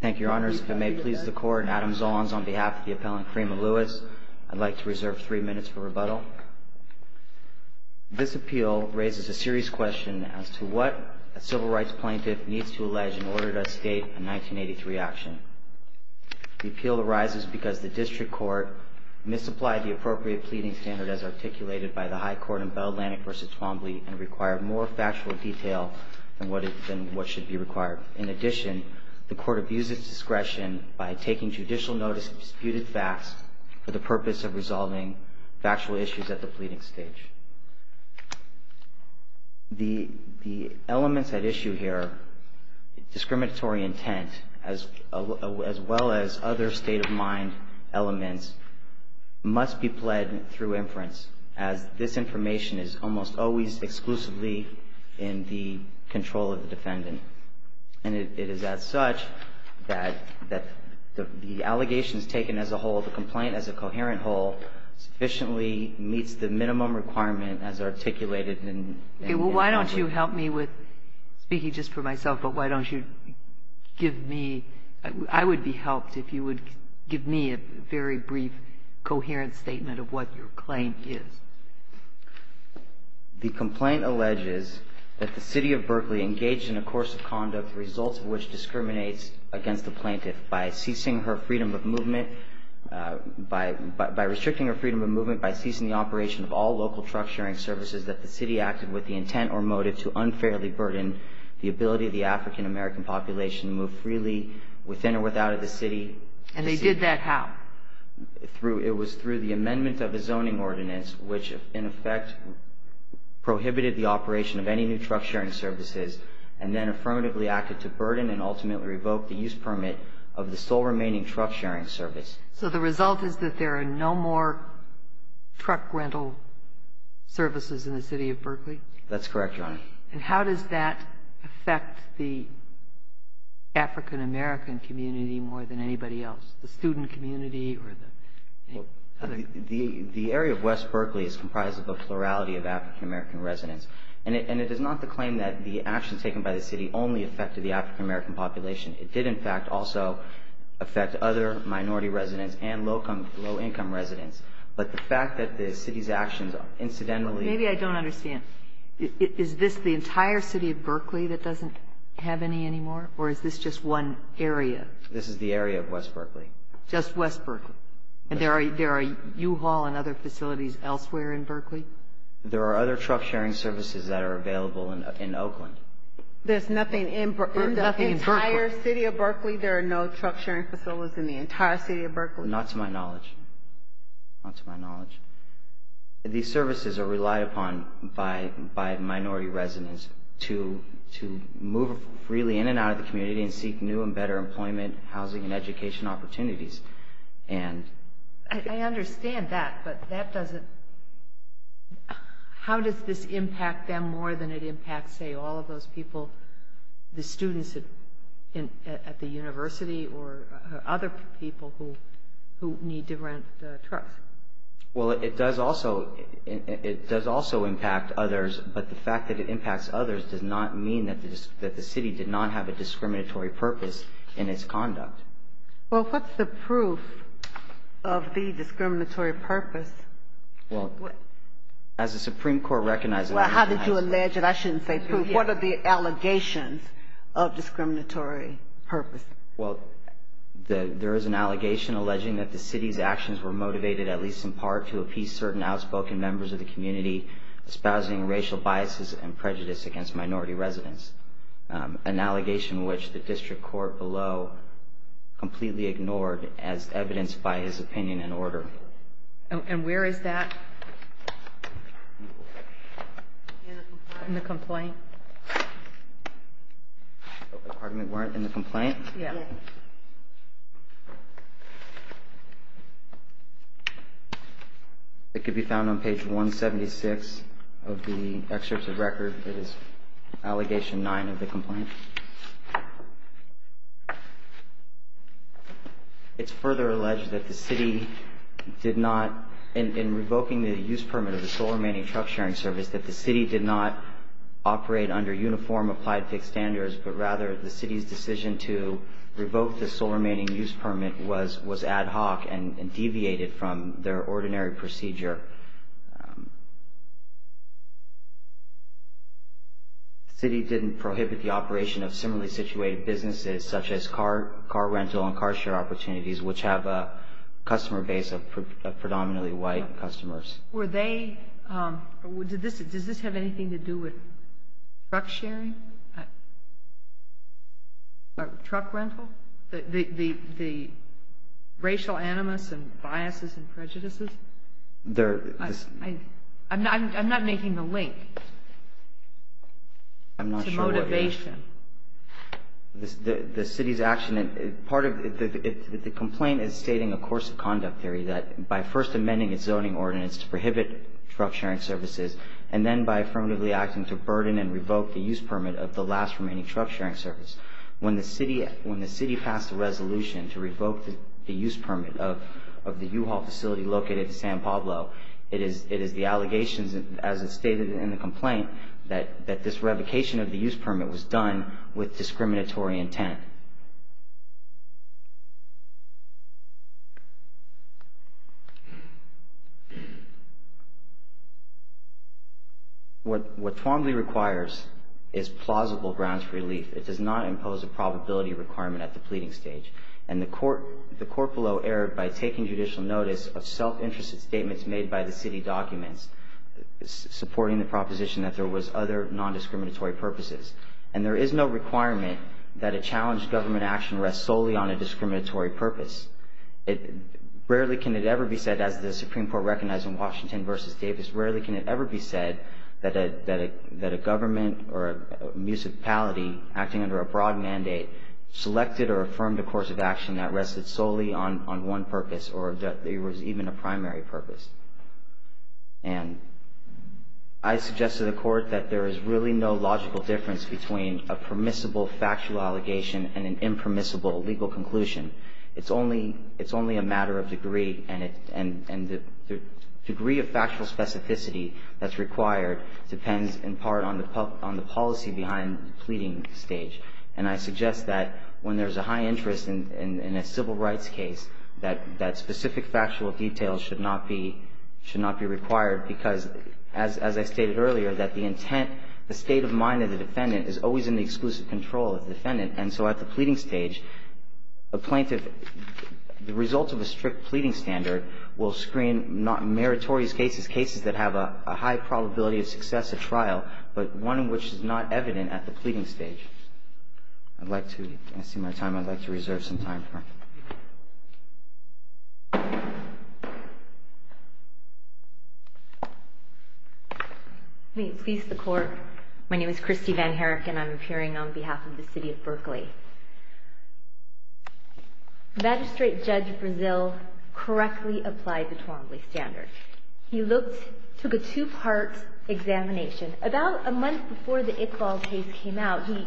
Thank you, Your Honors. If it may please the Court, Adam Zolans on behalf of the appellant, Frima Lewis, I'd like to reserve three minutes for rebuttal. This appeal raises a serious question as to what a civil rights plaintiff needs to allege in order to state a 1983 action. The appeal arises because the District Court misapplied the appropriate pleading standard as articulated by the High Court in Bell Atlantic v. Twombly and required more factual detail than what should be required. In addition, the Court abuses discretion by taking judicial notice of disputed facts for the purpose of resolving factual issues at the pleading stage. The elements at issue here, discriminatory intent as well as other state-of-mind elements, must be pled through inference as this information is almost always exclusively in the control of the defendant. And it is as such that the allegations taken as a whole, the complaint as a coherent whole, sufficiently meets the minimum requirement as articulated Well, why don't you help me with, speaking just for myself, but why don't you give me, I would be helped if you would give me a very brief, coherent statement of what your claim is. The complaint alleges that the City of Berkeley engaged in a course of conduct the results of which discriminates against the plaintiff by ceasing her freedom of movement, by restricting her freedom of movement, by ceasing the operation of all local truck-sharing services that the City acted with the intent or motive to unfairly burden the ability of the African-American population to move freely within or without of the City. And they did that how? It was through the amendment of the zoning ordinance, which in effect prohibited the operation of any new truck-sharing services and then affirmatively acted to burden and ultimately revoke the use permit of the sole remaining truck-sharing service. So the result is that there are no more truck rental services in the City of Berkeley? That's correct, Your Honor. And how does that affect the African-American community more than anybody else, the student community or the other? The area of West Berkeley is comprised of a plurality of African-American residents. And it is not the claim that the actions taken by the City only affected the African-American population. It did, in fact, also affect other minority residents and low-income residents. But the fact that the City's actions incidentally – Maybe I don't understand. Is this the entire City of Berkeley that doesn't have any anymore, or is this just one area? This is the area of West Berkeley. Just West Berkeley? And there are U-Haul and other facilities elsewhere in Berkeley? There are other truck-sharing services that are available in Oakland. There's nothing in the entire City of Berkeley? There are no truck-sharing facilities in the entire City of Berkeley? Not to my knowledge. Not to my knowledge. These services are relied upon by minority residents to move freely in and out of the community and seek new and better employment, housing, and education opportunities. I understand that, but that doesn't – how does this impact them more than it impacts, say, all of those people, the students at the university or other people who need to rent trucks? Well, it does also impact others, but the fact that it impacts others does not mean that the City did not have a discriminatory purpose in its conduct. Well, what's the proof of the discriminatory purpose? Well, as the Supreme Court recognizes – Well, how did you allege it? I shouldn't say proof. What are the allegations of discriminatory purpose? Well, there is an allegation alleging that the City's actions were motivated, at least in part, to appease certain outspoken members of the community, espousing racial biases and prejudice against minority residents, an allegation which the District Court below completely ignored as evidenced by his opinion and order. And where is that in the complaint? Pardon me, where in the complaint? Yeah. It could be found on page 176 of the excerpt of record. It is allegation 9 of the complaint. It's further alleged that the City did not, in revoking the use permit of the sole remaining truck-sharing service, that the City did not operate under uniform applied fixed standards, but rather the City's decision to revoke the sole remaining use permit was ad hoc and deviated from their ordinary procedure. The City didn't prohibit the operation of similarly situated businesses, such as car rental and car-share opportunities, which have a customer base of predominantly white customers. Were they – does this have anything to do with truck-sharing? Or truck rental? The racial animus and biases and prejudices? I'm not making the link. I'm not sure what it is. To motivation. The City's action, part of the complaint is stating a course of conduct theory, that by first amending its zoning ordinance to prohibit truck-sharing services, and then by affirmatively acting to burden and revoke the use permit of the last remaining truck-sharing service. When the City passed a resolution to revoke the use permit of the U-Haul facility located in San Pablo, it is the allegations, as it's stated in the complaint, that this revocation of the use permit was done with discriminatory intent. What Twombly requires is plausible grounds for relief. It does not impose a probability requirement at the pleading stage. And the court below erred by taking judicial notice of self-interested statements made by the City documents supporting the proposition that there was other non-discriminatory purposes. And there is no requirement that a challenged government action rests solely on a discriminatory purpose. Rarely can it ever be said, as the Supreme Court recognized in Washington v. Davis, rarely can it ever be said that a government or a municipality acting under a broad mandate selected or affirmed a course of action that rested solely on one purpose or that there was even a primary purpose. And I suggest to the Court that there is really no logical difference between a permissible factual allegation and an impermissible legal conclusion. It's only a matter of degree, and the degree of factual specificity that's required depends in part on the policy behind the pleading stage. And I suggest that when there's a high interest in a civil rights case, that specific factual details should not be required because, as I stated earlier, that the intent, the state of mind of the defendant is always in the exclusive control of the defendant. And so at the pleading stage, a plaintiff, the result of a strict pleading standard will screen not meritorious cases, cases that have a high probability of success as a trial, but one in which it's not evident at the pleading stage. I'd like to see my time. I'd like to reserve some time for it. May it please the Court. My name is Christy Van Herrick, and I'm appearing on behalf of the city of Berkeley. Magistrate Judge Brazil correctly applied the Twombly standard. He looked, took a two-part examination. About a month before the Iqbal case came out, he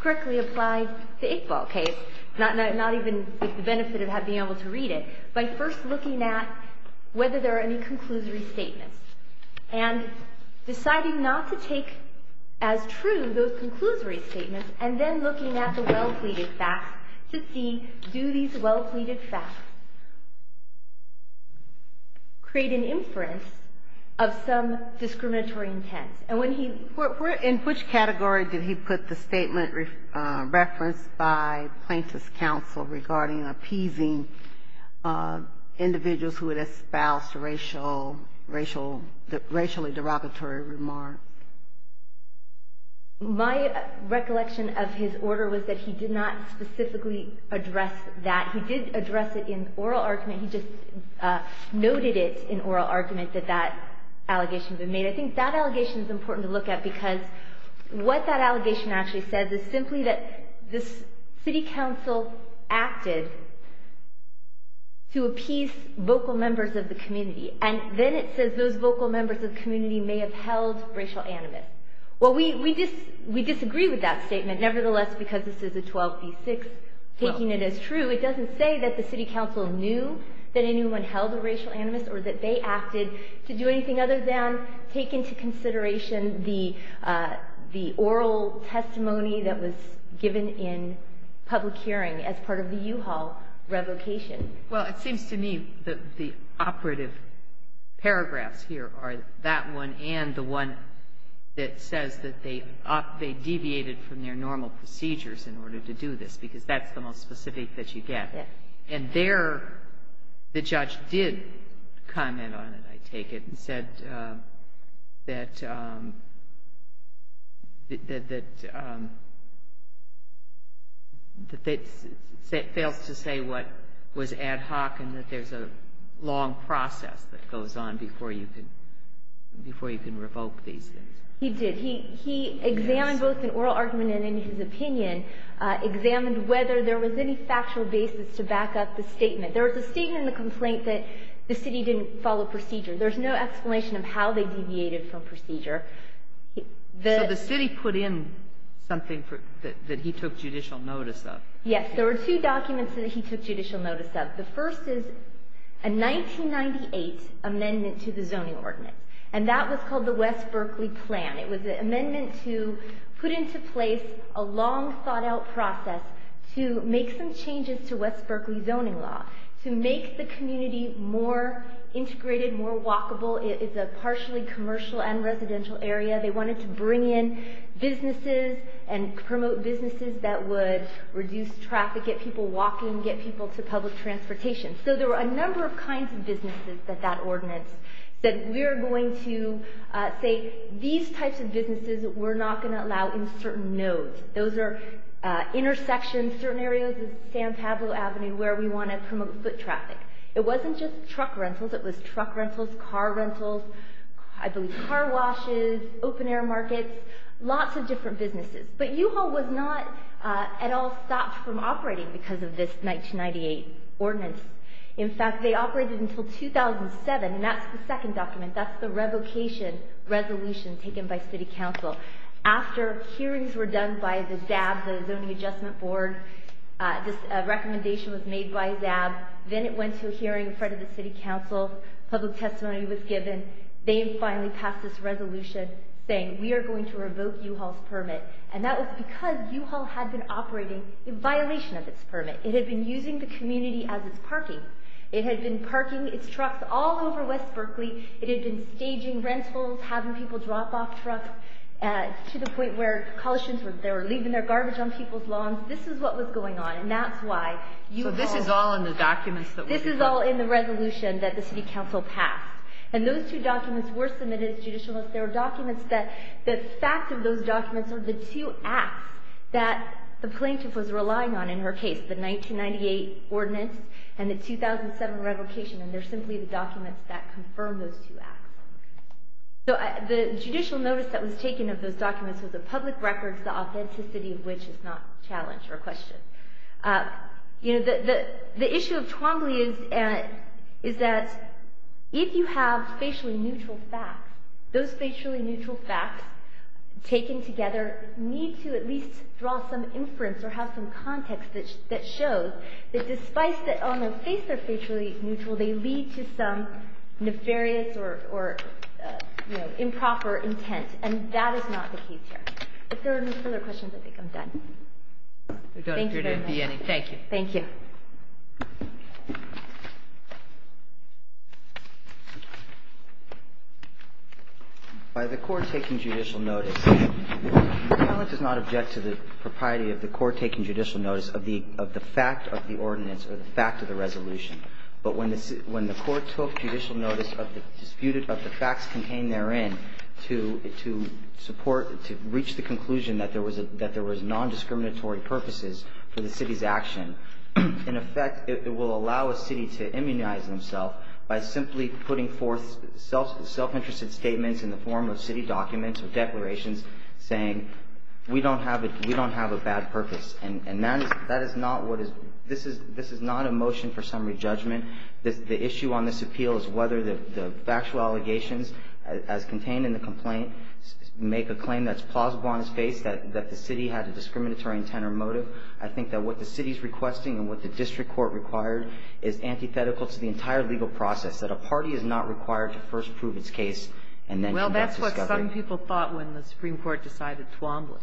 correctly applied the Iqbal case, not even with the benefit of being able to read it, by first looking at whether there are any conclusory statements and deciding not to take as true those conclusory statements, and then looking at the well-pleaded facts to see, do these well-pleaded facts create an inference of some discriminatory intent? And when he... In which category did he put the statement referenced by plaintiff's counsel regarding appeasing individuals who had espoused racially derogatory remarks? My recollection of his order was that he did not specifically address that. He did address it in oral argument. He just noted it in oral argument that that allegation had been made. I think that allegation is important to look at, because what that allegation actually says is simply that this city council acted to appease vocal members of the community, and then it says those vocal members of the community may have held racial animus. Well, we disagree with that statement. Nevertheless, because this is a 12b6, taking it as true, it doesn't say that the city council knew that anyone held a racial animus or that they acted to do anything other than take into consideration the oral testimony that was given in public hearing as part of the U-Haul revocation. Well, it seems to me that the operative paragraphs here are that one and the one that says that they deviated from their normal procedures in order to do this, because that's the most specific that you get. And there the judge did comment on it, I take it, and said that it fails to say what was ad hoc and that there's a long process that goes on before you can revoke these things. He did. He examined both in oral argument and in his opinion, examined whether there was any factual basis to back up the statement. There was a statement in the complaint that the city didn't follow procedure. There's no explanation of how they deviated from procedure. So the city put in something that he took judicial notice of. Yes. There were two documents that he took judicial notice of. The first is a 1998 amendment to the zoning ordinance, and that was called the West Berkeley Plan. It was an amendment to put into place a long, thought-out process to make some changes to West Berkeley zoning law to make the community more integrated, more walkable. It's a partially commercial and residential area. They wanted to bring in businesses and promote businesses that would reduce traffic, get people walking, get people to public transportation. So there were a number of kinds of businesses that that ordinance said, we're going to say these types of businesses we're not going to allow in certain nodes. Those are intersections, certain areas of San Pablo Avenue where we want to promote foot traffic. It wasn't just truck rentals. It was truck rentals, car rentals, I believe car washes, open-air markets, lots of different businesses. But U-Haul was not at all stopped from operating because of this 1998 ordinance. In fact, they operated until 2007, and that's the second document. That's the revocation resolution taken by City Council. After hearings were done by the ZAB, the Zoning Adjustment Board, this recommendation was made by ZAB. Then it went to a hearing in front of the City Council. Public testimony was given. They finally passed this resolution saying, we are going to revoke U-Haul's permit. And that was because U-Haul had been operating in violation of its permit. It had been using the community as its parking. It had been parking its trucks all over West Berkeley. It had been staging rentals, having people drop off trucks, to the point where college students were leaving their garbage on people's lawns. This is what was going on, and that's why U-Haul— So this is all in the documents that were— This is all in the resolution that the City Council passed. And those two documents were submitted as judicial notes. They were documents that—the fact of those documents are the two acts that the plaintiff was relying on in her case, the 1998 ordinance and the 2007 revocation. And they're simply the documents that confirm those two acts. So the judicial notice that was taken of those documents was of public records, the authenticity of which is not challenged or questioned. You know, the issue of Twombly is that if you have facially neutral facts, those facially neutral facts taken together need to at least draw some inference or have some context that shows that despite that on the face they're facially neutral, they lead to some nefarious or, you know, improper intent. And that is not the case here. If there are no further questions, I think I'm done. Thank you very much. Thank you. Thank you. By the court taking judicial notice, the panel does not object to the propriety of the court taking judicial notice of the fact of the ordinance or the fact of the resolution. But when the court took judicial notice of the facts contained therein to support, to reach the conclusion that there was nondiscriminatory purposes for the city's action, in effect it will allow a city to immunize themself by simply putting forth self-interested statements in the form of city documents or declarations saying we don't have a bad purpose. And that is not what is – this is not a motion for summary judgment. The issue on this appeal is whether the factual allegations as contained in the complaint make a claim that's plausible on its face that the city had a discriminatory intent or motive. I think that what the city is requesting and what the district court required is antithetical to the entire legal process, that a party is not required to first prove its case and then conduct discovery. Well, that's what some people thought when the Supreme Court decided Twombly.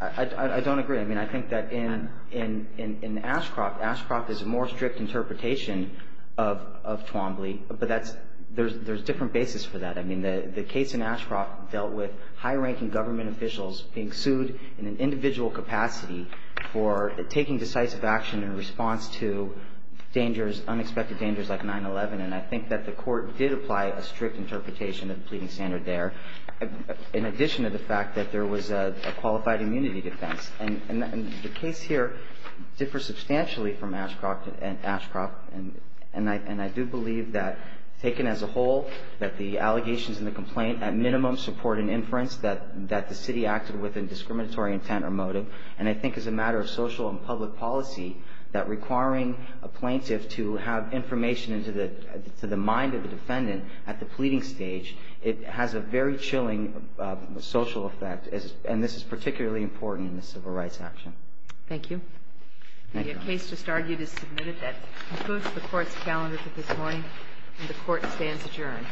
I don't agree. I mean, I think that in Ashcroft, Ashcroft is a more strict interpretation of Twombly, but that's – there's different basis for that. I mean, the case in Ashcroft dealt with high-ranking government officials being sued in an individual capacity for taking decisive action in response to dangers, unexpected dangers like 9-11, and I think that the court did apply a strict interpretation of the pleading standard there, in addition to the fact that there was a qualified immunity defense. And the case here differs substantially from Ashcroft, and I do believe that, taken as a whole, that the allegations in the complaint at minimum support an inference that the city acted with a discriminatory intent or motive, and I think as a matter of social and public policy that requiring a plaintiff to have information into the mind of the defendant at the pleading stage, it has a very chilling social effect, and this is particularly important in the civil rights action. Thank you. The case just argued is submitted. That concludes the court's calendar for this morning, and the court stands adjourned.